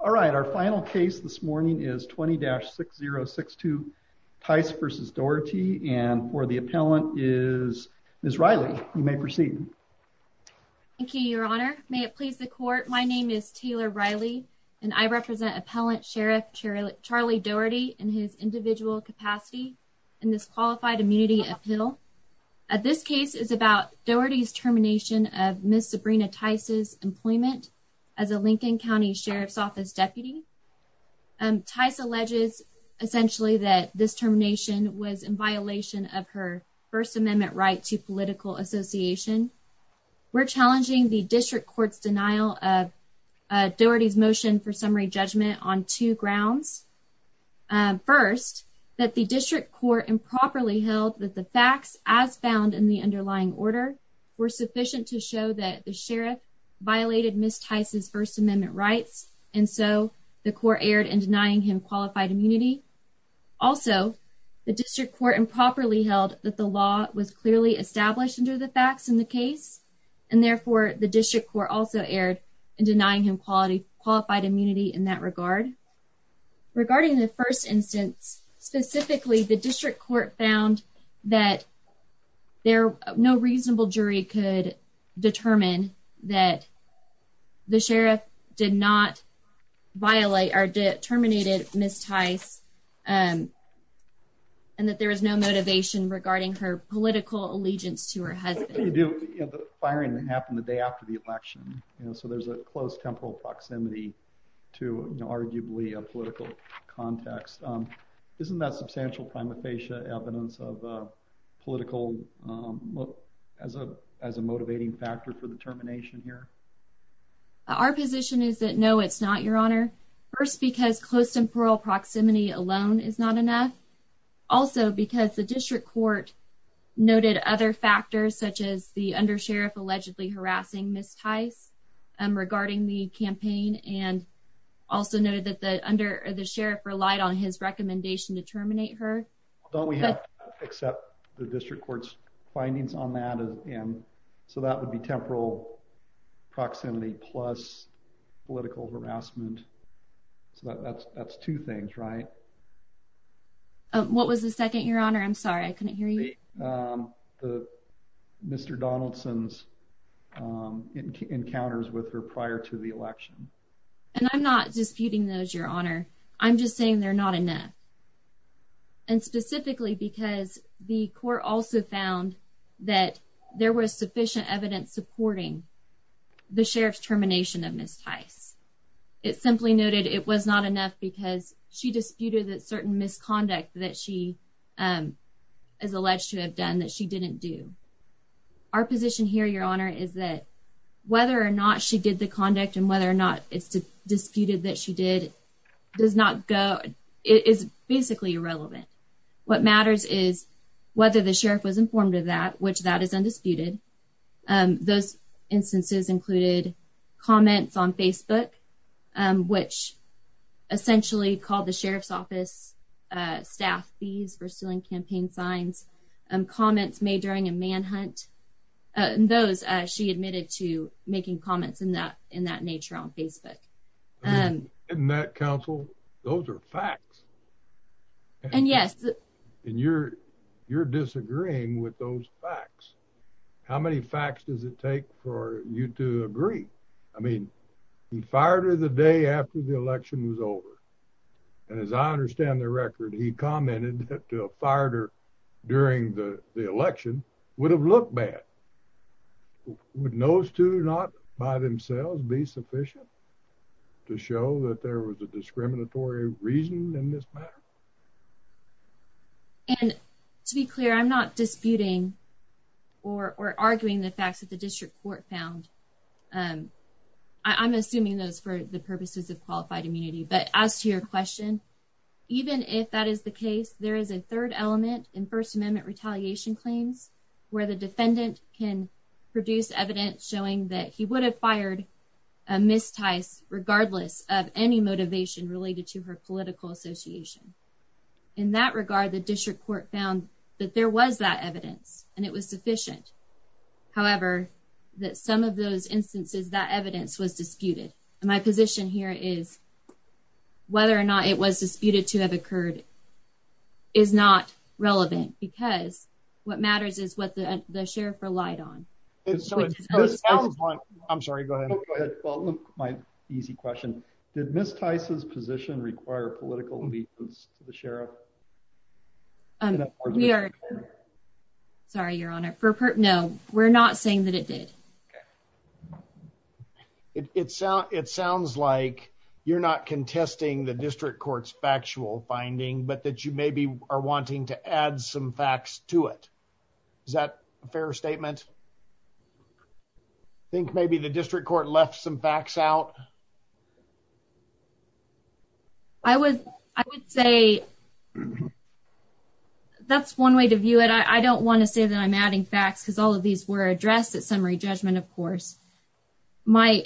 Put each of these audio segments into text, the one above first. All right. Our final case this morning is 20-6062 Tice v. Dougherty. And for the appellant is Ms. Riley. You may proceed. Thank you, Your Honor. May it please the Court, my name is Taylor Riley and I represent Appellant Sheriff Charlie Dougherty in his individual capacity in this Qualified Immunity Appeal. This case is about Dougherty's termination of Ms. Sabrina Tice's employment as a Lincoln County Sheriff's Office Deputy. Tice alleges essentially that this termination was in violation of her First Amendment right to political association. We're challenging the District Court's denial of Dougherty's motion for summary judgment on two grounds. First, that the District Court improperly held that the facts as found in the underlying order were sufficient to show that the Sheriff violated Ms. Tice's First Amendment rights and so the Court erred in denying him Qualified Immunity. Also, the District Court improperly held that the law was clearly established under the facts in the case and therefore the District Court also erred in denying him Qualified Immunity in that regard. Regarding the first instance, specifically the District Court found that no reasonable jury could determine that the Sheriff did not violate or terminate Ms. Tice and that there was no motivation regarding her political allegiance to her husband. The firing that happened the day after the election, so there's a close temporal proximity to arguably a political context. Isn't that substantial prima facie evidence of political, as a motivating factor for the termination here? Our position is that no, it's not, Your Honor. First, because close temporal proximity alone is not enough. Also, because the District Court noted other factors such as the undersheriff allegedly harassing Ms. Tice regarding the campaign and also noted that the undersheriff relied on his recommendation to terminate her. Don't we have to accept the District Court's findings on that? So that would be temporal proximity plus political harassment. So that's two things, right? What was the second, Your Honor? I'm sorry, I couldn't hear you. Mr. Donaldson's encounters with her prior to the election. And I'm not disputing those, Your Honor. I'm just saying they're not enough. And specifically because the court also found that there was sufficient evidence supporting the Sheriff's termination of Ms. Tice. It simply noted it was not enough because she disputed that certain misconduct that she is alleged to have done that she didn't do. Our position here, Your Honor, is that whether or not she did the conduct and whether or not it's disputed that she did, it is basically irrelevant. What matters is whether the sheriff was informed of that, which that is undisputed. Those instances included comments on Facebook, which essentially called the sheriff's office staff fees for stealing campaign signs and comments made during a manhunt. Those she admitted to making comments in that in that nature on Facebook. And that counsel, those are facts. And yes, and you're you're disagreeing with those facts. How many facts does it take for you to agree? I mean, he fired her the day after the election was over. And as I understand the record, he commented that fired her during the election would have looked bad. Would those two not by themselves be sufficient to show that there was a discriminatory reason in this matter? And to be clear, I'm not disputing or arguing the facts that the district court found. I'm assuming those for the purposes of qualified immunity, but as to your question, even if that is the case, there is a third element in First Amendment retaliation claims where the defendant can produce evidence showing that he would have fired a mistyce, regardless of any motivation related to her political association. In that regard, the district court found that there was that evidence and it was sufficient. However, that some of those instances that evidence was disputed. And my position here is whether or not it was disputed to have occurred is not relevant because what matters is what the sheriff relied on. I'm sorry. Go ahead. My easy question. Did Miss Tyson's position require political allegiance to the sheriff? Sorry, Your Honor. No, we're not saying that it did. It sounds like you're not contesting the district court's factual finding, but that you maybe are wanting to add some facts to it. Is that a fair statement? I think maybe the district court left some facts out. I would say that's one way to view it. I don't want to say that I'm adding facts because all of these were addressed at summary judgment, of course. My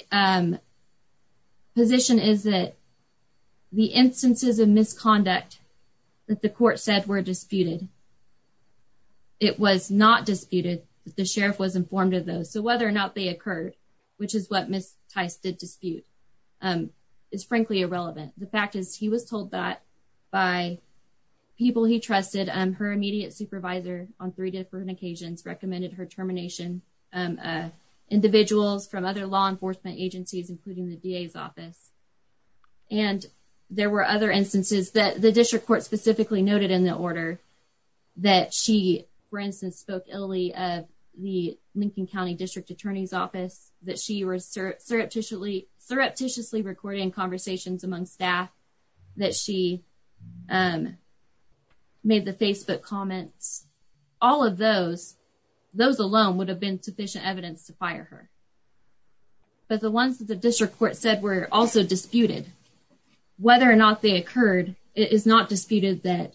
position is that the instances of misconduct that the court said were disputed, it was not disputed that the sheriff was informed of those. So whether or not they occurred, which is what Miss Tyson did dispute, is frankly irrelevant. The fact is he was told that by people he trusted and her immediate supervisor on three different occasions recommended her termination of individuals from other law enforcement agencies, including the DA's office. And there were other instances that the district court specifically noted in the order that she, for instance, spoke illy of the Lincoln County District Attorney's Office, that she was surreptitiously recording conversations among staff, that she made the Facebook comments. All of those, those alone would have been sufficient evidence to fire her. But the ones that the district court said were also disputed, whether or not they occurred, it is not disputed that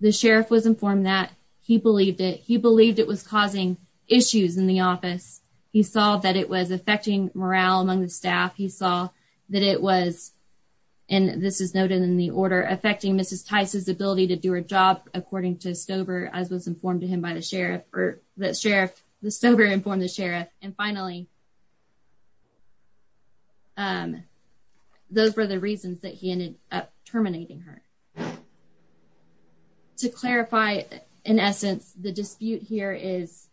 the sheriff was informed that. He believed it. He believed it was causing issues in the office. He saw that it was affecting morale among the staff. He saw that it was, and this is noted in the order, affecting Mrs. Tyson's ability to do her job, according to Stover, as was informed to him by the sheriff. The sheriff, the Stover informed the sheriff. And finally, those were the reasons that he ended up terminating her. To clarify, in essence, the dispute here is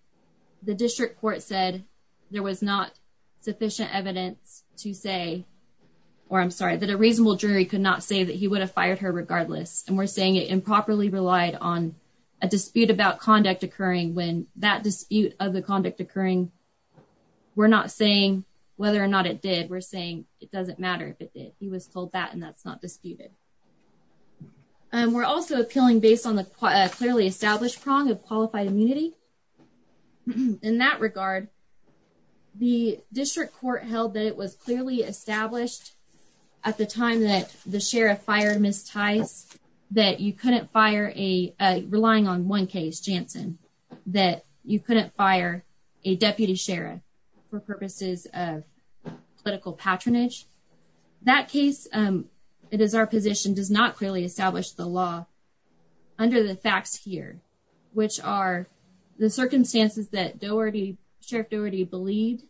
the district court said there was not sufficient evidence to say, or I'm sorry, that a reasonable jury could not say that he would have fired her regardless. And we're saying it improperly relied on a dispute about conduct occurring when that dispute of the conduct occurring. We're not saying whether or not it did. We're saying it doesn't matter if it did. He was told that and that's not disputed. We're also appealing based on the clearly established prong of qualified immunity. In that regard, the district court held that it was clearly established at the time that the sheriff fired Mrs. Tyson that you couldn't fire a, relying on one case, Jansen, that you couldn't fire a deputy sheriff for purposes of political patronage. That case, it is our position, does not clearly establish the law under the facts here, which are the circumstances that Doherty, Sheriff Doherty believed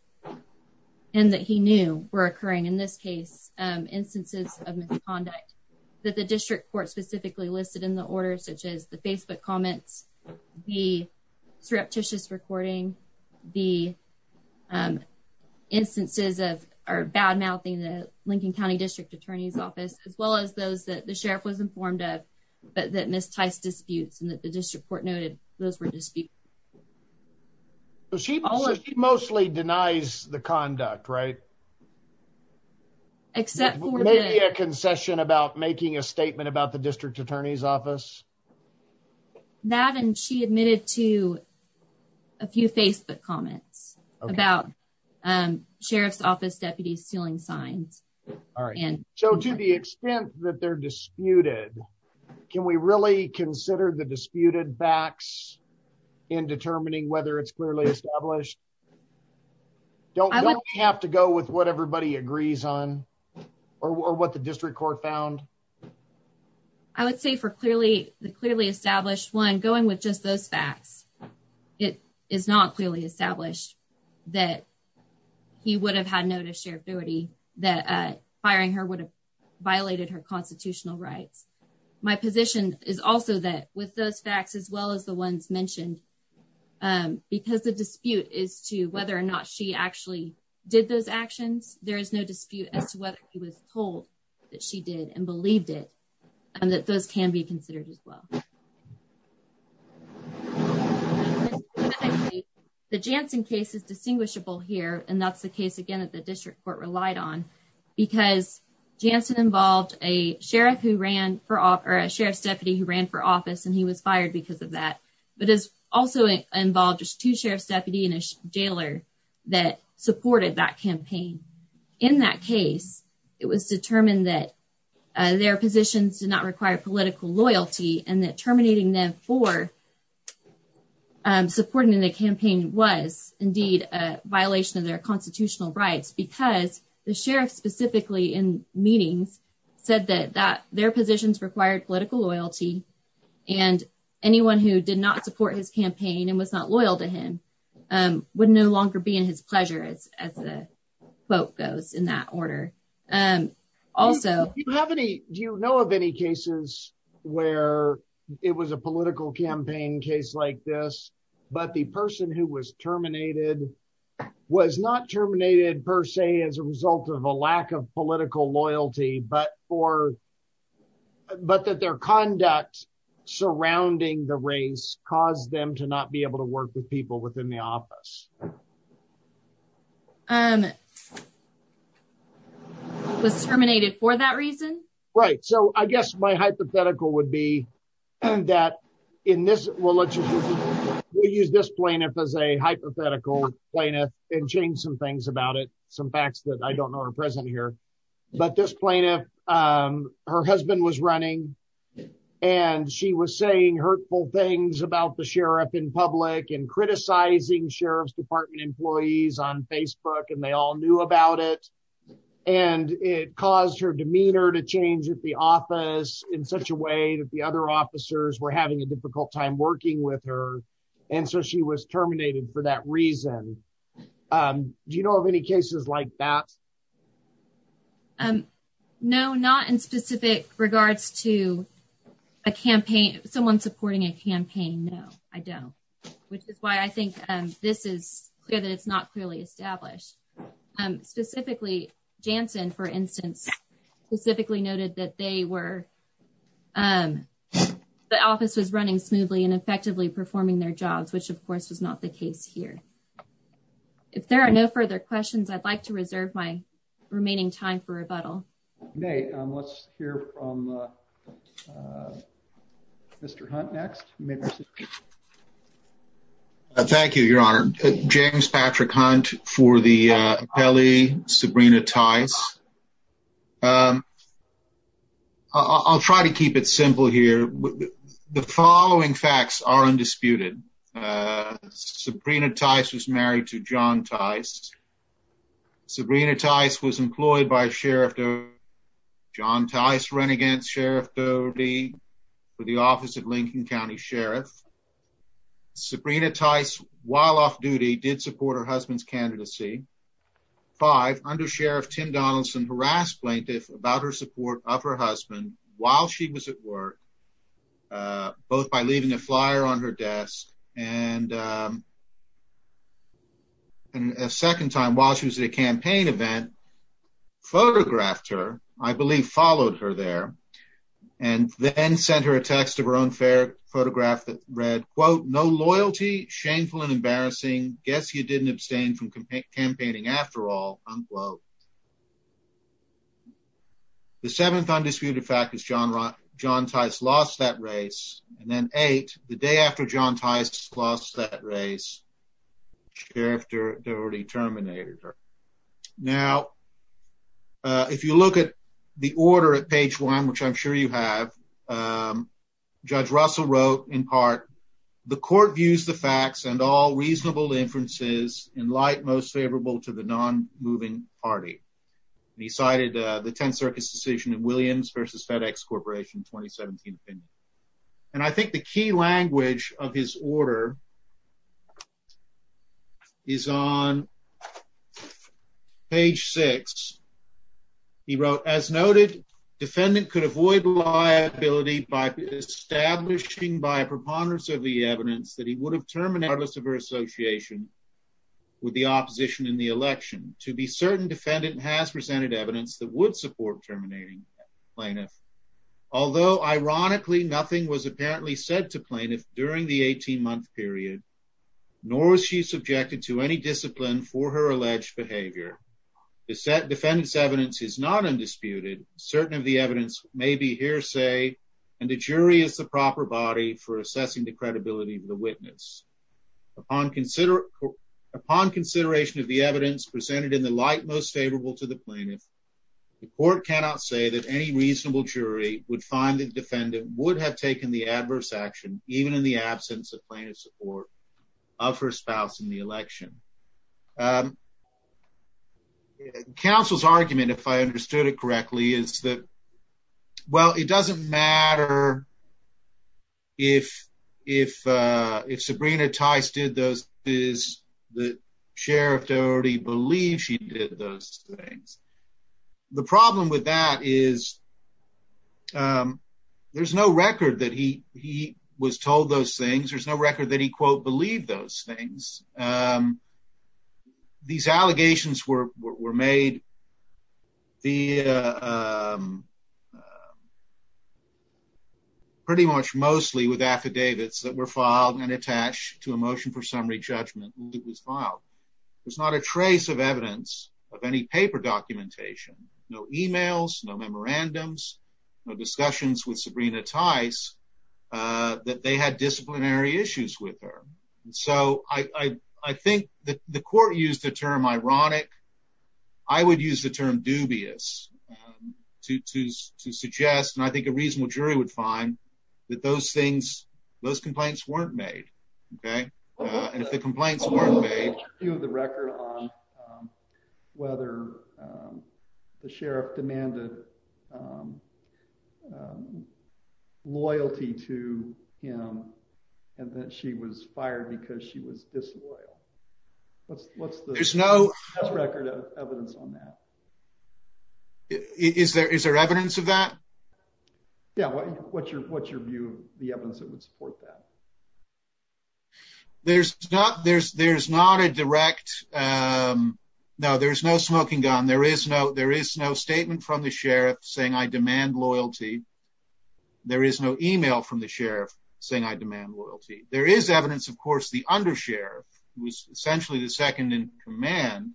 and that he knew were occurring in this case, instances of misconduct. That the district court specifically listed in the order, such as the Facebook comments, the surreptitious recording, the instances of our bad mouthing the Lincoln County District Attorney's Office, as well as those that the sheriff was informed of, but that Mrs. Tyson disputes and that the district court noted those were disputed. So she mostly denies the conduct, right? Except maybe a concession about making a statement about the district attorney's office. That and she admitted to a few Facebook comments about sheriff's office deputies stealing signs. So to the extent that they're disputed, can we really consider the disputed facts in determining whether it's clearly established? Don't have to go with what everybody agrees on or what the district court found. I would say for clearly the clearly established 1 going with just those facts. It is not clearly established that he would have had no to share duty that firing her would have violated her constitutional rights. My position is also that with those facts, as well as the ones mentioned, because the dispute is to whether or not she actually did those actions, there is no dispute as to whether he was told that she did and believed it. And that those can be considered as well. The Jansen case is distinguishable here, and that's the case again at the district court relied on because Jansen involved a sheriff who ran for a sheriff's deputy who ran for office and he was fired because of that. But it's also involved just 2 sheriff's deputy and a jailer that supported that campaign in that case. It was determined that their positions do not require political loyalty and that terminating them for. Supporting the campaign was indeed a violation of their constitutional rights because the sheriff specifically in meetings said that that their positions required political loyalty. And anyone who did not support his campaign and was not loyal to him would no longer be in his pleasure as as a quote goes in that order. Also, do you have any do you know of any cases where it was a political campaign case like this, but the person who was terminated was not terminated per se as a result of a lack of political loyalty but for. But that their conduct surrounding the race caused them to not be able to work with people within the office. Um. Was terminated for that reason, right? So I guess my hypothetical would be that in this will let you use this plaintiff as a hypothetical plaintiff and change some things about it. Some facts that I don't know are present here, but this plaintiff her husband was running and she was saying hurtful things about the sheriff in public and criticizing sheriff's department employees on Facebook and they all knew about it. And it caused her demeanor to change at the office in such a way that the other officers were having a difficult time working with her. And so she was terminated for that reason. Do you know of any cases like that? No, not in specific regards to a campaign. Someone supporting a campaign. No, I don't, which is why I think this is clear that it's not clearly established. Specifically, Jansen, for instance, specifically noted that they were. The office was running smoothly and effectively performing their jobs, which, of course, was not the case here. If there are no further questions, I'd like to reserve my remaining time for rebuttal. Let's hear from. Mr Hunt next. Thank you, Your Honor. James Patrick Hunt for the belly. Sabrina ties. I'll try to keep it simple here. The following facts are undisputed. Sabrina Tice was married to John Tice. Sabrina Tice was employed by a sheriff. John Tice ran against Sheriff Doty for the office of Lincoln County Sheriff. Sabrina Tice, while off duty, did support her husband's candidacy. Five under Sheriff Tim Donaldson harass plaintiff about her support of her husband while she was at work. Both by leaving a flyer on her desk and. And a second time while she was at a campaign event photographed her, I believe, followed her there and then sent her a text of her own fair photograph that read, quote, no loyalty, shameful and embarrassing. Guess you didn't abstain from campaigning after all. Unquote. The seventh undisputed fact is John John Tice lost that race and then ate the day after John Tice lost that race. Sheriff Doty terminated her now. If you look at the order at page one, which I'm sure you have. Judge Russell wrote, in part, the court views the facts and all reasonable inferences in light most favorable to the non moving party. He cited the 10th Circus decision in Williams versus FedEx Corporation 2017 opinion. And I think the key language of his order. Is on Page six. He wrote, as noted, defendant could avoid liability by establishing by a preponderance of the evidence that he would have terminated her association. With the opposition in the election to be certain defendant has presented evidence that would support terminating plaintiff. Although, ironically, nothing was apparently said to plaintiff during the 18 month period. Nor was she subjected to any discipline for her alleged behavior is set defendants evidence is not undisputed certain of the evidence may be hearsay and the jury is the proper body for assessing the credibility of the witness. Upon consider upon consideration of the evidence presented in the light most favorable to the plaintiff. The court cannot say that any reasonable jury would find the defendant would have taken the adverse action, even in the absence of plaintiff support of her spouse in the election. Counsel's argument, if I understood it correctly, is that. Well, it doesn't matter. If, if, if Sabrina ties did those is the sheriff already believe she did those things. The problem with that is There's no record that he he was told those things. There's no record that he quote believe those things. These allegations were were made. The Pretty much mostly with affidavits that were filed and attached to emotion for summary judgment was filed. There's not a trace of evidence of any paper documentation no emails no memorandums discussions with Sabrina ties that they had disciplinary issues with her. And so I think that the court used the term ironic I would use the term dubious to to to suggest, and I think a reasonable jury would find that those things those complaints weren't made. Okay. And if the complaints weren't made. The record on Whether The sheriff demanded Loyalty to him and that she was fired because she was disloyal. What's, what's the No record of evidence on that. Is there is there evidence of that. Yeah. What's your, what's your view, the evidence that would support that. There's not there's there's not a direct No, there's no smoking gun. There is no there is no statement from the sheriff saying I demand loyalty. There is no email from the sheriff saying I demand loyalty. There is evidence, of course, the undershare was essentially the second in command.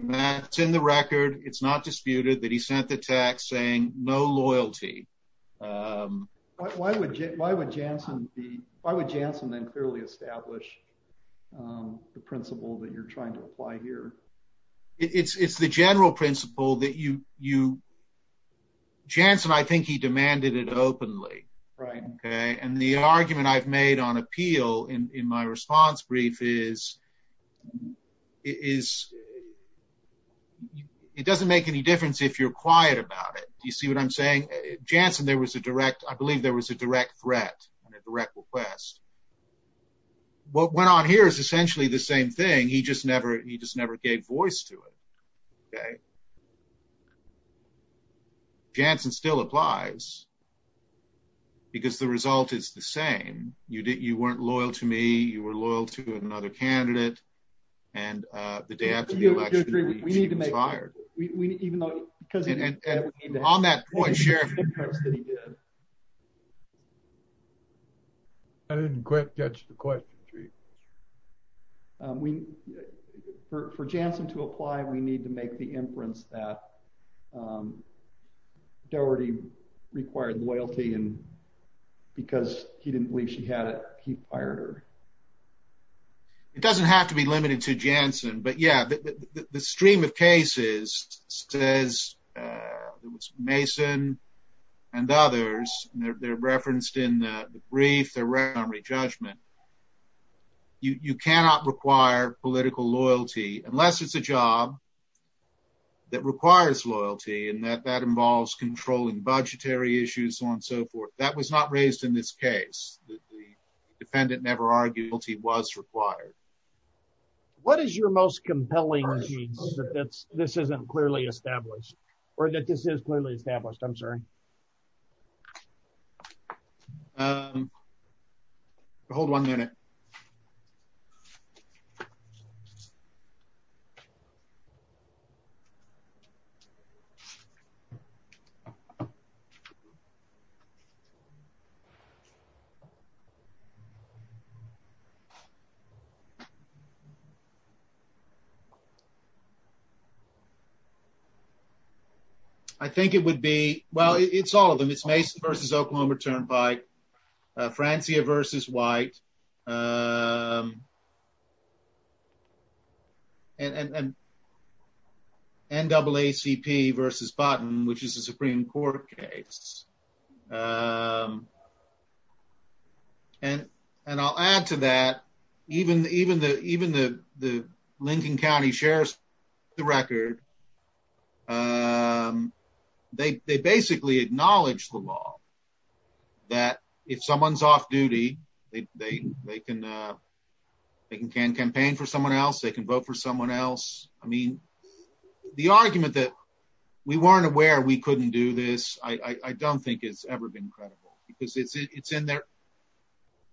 That's in the record. It's not disputed that he sent the text saying no loyalty. Why would, why would Jansen the I would Jansen then clearly establish The principle that you're trying to apply here. It's the general principle that you you Jansen, I think he demanded it openly. Right. Okay. And the argument I've made on appeal in my response brief is Is It doesn't make any difference if you're quiet about it. You see what I'm saying, Jansen, there was a direct I believe there was a direct threat and a direct request. What went on here is essentially the same thing. He just never. He just never gave voice to it. Okay. Jansen still applies. Because the result is the same. You didn't you weren't loyal to me. You were loyal to another candidate and the day after the election. We need to make fire. Even though because On that point share I didn't quit. That's the question tree. We for Jansen to apply. We need to make the inference that Doherty required loyalty and because he didn't believe she had it. He fired her It doesn't have to be limited to Jansen. But yeah, the stream of cases says it was Mason and others. They're referenced in the brief around re judgment. You cannot require political loyalty, unless it's a job. That requires loyalty and that that involves controlling budgetary issues on so forth. That was not raised in this case, the defendant never argued guilty was required. What is your most compelling This isn't clearly established or that this is clearly established. I'm sorry. Hold one minute. Okay. I think it would be. Well, it's all of them. It's Mason versus Oklahoma turned by Francia versus white NAACP versus button, which is a Supreme Court case. And, and I'll add to that even even the even the the Lincoln County Sheriff's the record. They basically acknowledge the law. That if someone's off duty, they, they, they can They can can campaign for someone else. They can vote for someone else. I mean, the argument that we weren't aware. We couldn't do this. I don't think it's ever been credible because it's it's in there.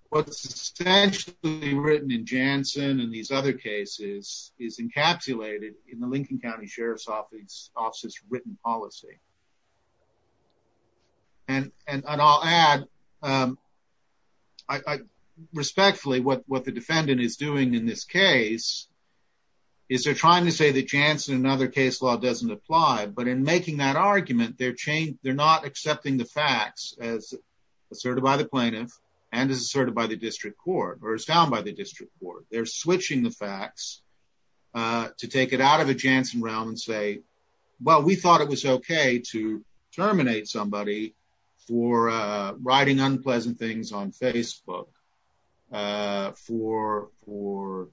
What's essentially written in Jansen and these other cases is encapsulated in the Lincoln County Sheriff's office offices written policy. And, and I'll add I respectfully what what the defendant is doing in this case. Is they're trying to say that Jansen another case law doesn't apply, but in making that argument, they're changed. They're not accepting the facts as Asserted by the plaintiff and is asserted by the district court or is down by the district court. They're switching the facts. To take it out of the Jansen realm and say, well, we thought it was okay to terminate somebody for writing unpleasant things on Facebook. For for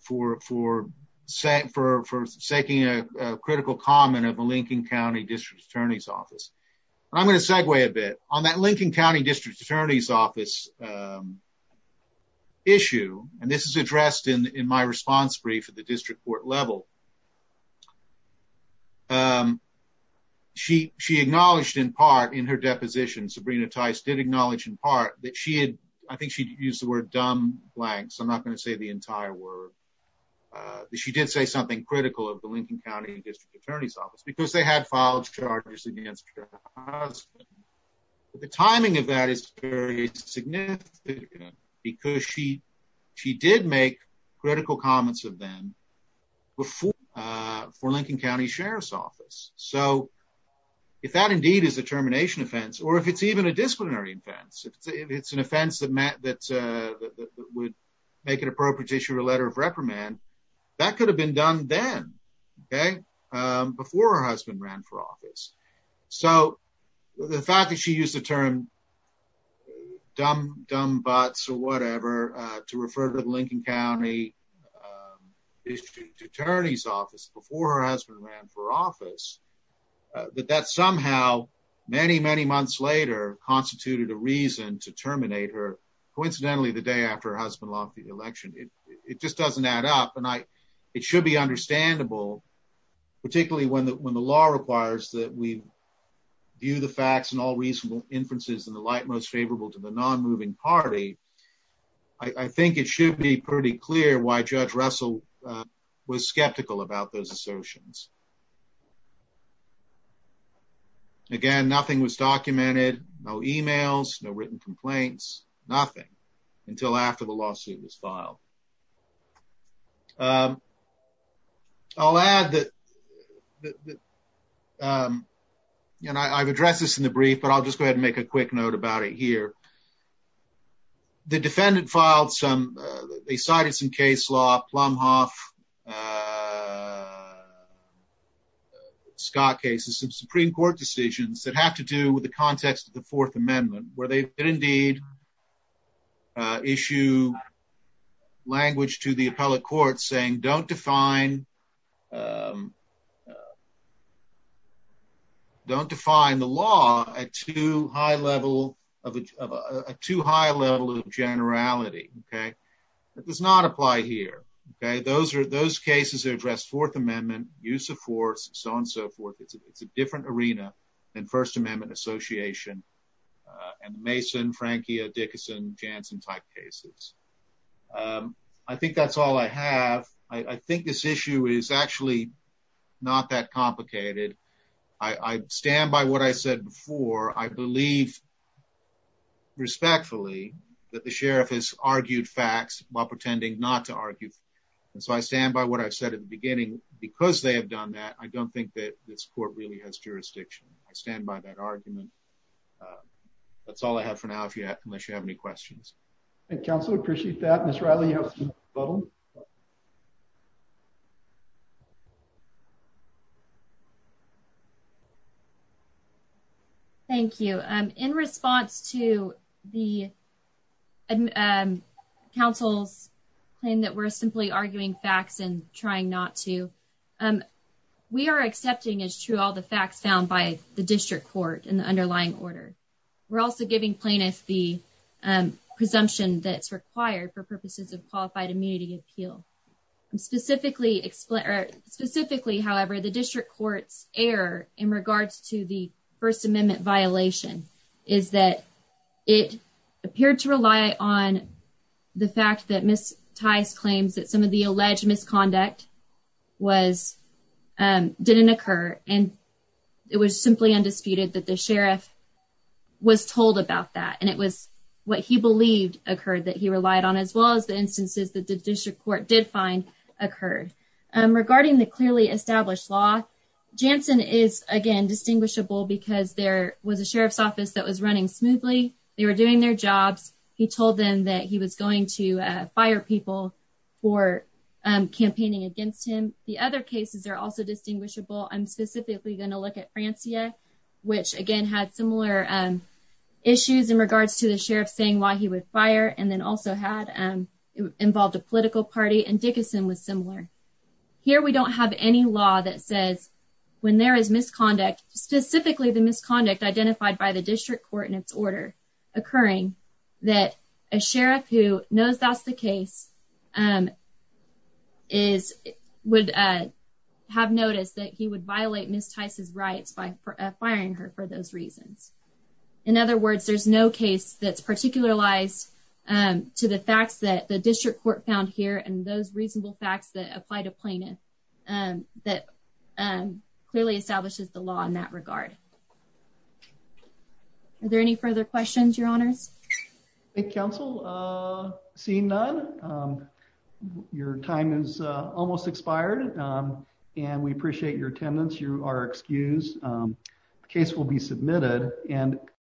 For for saying for for saking a critical comment of a Lincoln County district attorney's office. I'm going to segue a bit on that Lincoln County district attorney's office. Issue and this is addressed in my response brief at the district court level. She she acknowledged in part in her deposition Sabrina ties did acknowledge in part that she had. I think she used the word dumb blanks. I'm not going to say the entire word She did say something critical of the Lincoln County district attorney's office because they had filed charges against The timing of that is very significant because she she did make critical comments of them before for Lincoln County Sheriff's Office so If that indeed is a termination offense or if it's even a disciplinary offense. It's an offense that Matt that would make it appropriate issue a letter of reprimand that could have been done then. Okay. Before her husband ran for office. So the fact that she used the term Dumb, dumb butts or whatever to refer to Lincoln County. District Attorney's Office before her husband ran for office that that somehow many, many months later constituted a reason to terminate her Coincidentally, the day after her husband lost the election. It just doesn't add up and I it should be understandable, particularly when the when the law requires that we View the facts and all reasonable inferences in the light most favorable to the non moving party. I think it should be pretty clear why Judge Russell was skeptical about those assertions. Again, nothing was documented no emails, no written complaints, nothing until after the lawsuit was filed. I'll add that And I've addressed this in the brief, but I'll just go ahead and make a quick note about it here. The defendant filed some they cited some case law plumb off. Scott cases of Supreme Court decisions that have to do with the context of the Fourth Amendment, where they did indeed. Issue. Language to the appellate court saying don't define Don't define the law at too high level of a too high level of generality. Okay, that does not apply here. Okay, those are those cases are addressed Fourth Amendment use of force, so on so forth. It's a different arena and First Amendment Association and Mason Frankie Dickinson Jansen type cases. I think that's all I have. I think this issue is actually not that complicated. I stand by what I said before, I believe. Respectfully that the sheriff has argued facts while pretending not to argue. And so I stand by what I said at the beginning, because they have done that. I don't think that this court really has jurisdiction. I stand by that argument. That's all I have for now. If you have any questions. Council appreciate that. Thank you. In response to the We're also giving plaintiff the presumption that's required for purposes of qualified immunity appeal. Specifically, specifically, however, the district courts air in regards to the First Amendment violation is that it appeared to rely on the fact that Miss ties claims that some of the alleged misconduct was Didn't occur and it was simply undisputed that the sheriff was told about that. And it was what he believed occurred that he relied on as well as the instances that the district court did find occurred. Regarding the clearly established law Jansen is again distinguishable because there was a sheriff's office that was running smoothly. They were doing their jobs. He told them that he was going to fire people for Campaigning against him. The other cases are also distinguishable. I'm specifically going to look at Francia, which again had similar Issues in regards to the sheriff saying why he would fire and then also had involved a political party and Dickinson was similar Here we don't have any law that says when there is misconduct specifically the misconduct identified by the district court in its order occurring that a sheriff who knows that's the case. Is would have noticed that he would violate Miss Tice's rights by firing her for those reasons. In other words, there's no case that's particular lies to the facts that the district court found here and those reasonable facts that apply to plaintiff and that Clearly establishes the law in that regard. Are there any further questions, Your Honors. Council. Seeing none. Your time is almost expired and we appreciate your attendance. You are excused case will be submitted and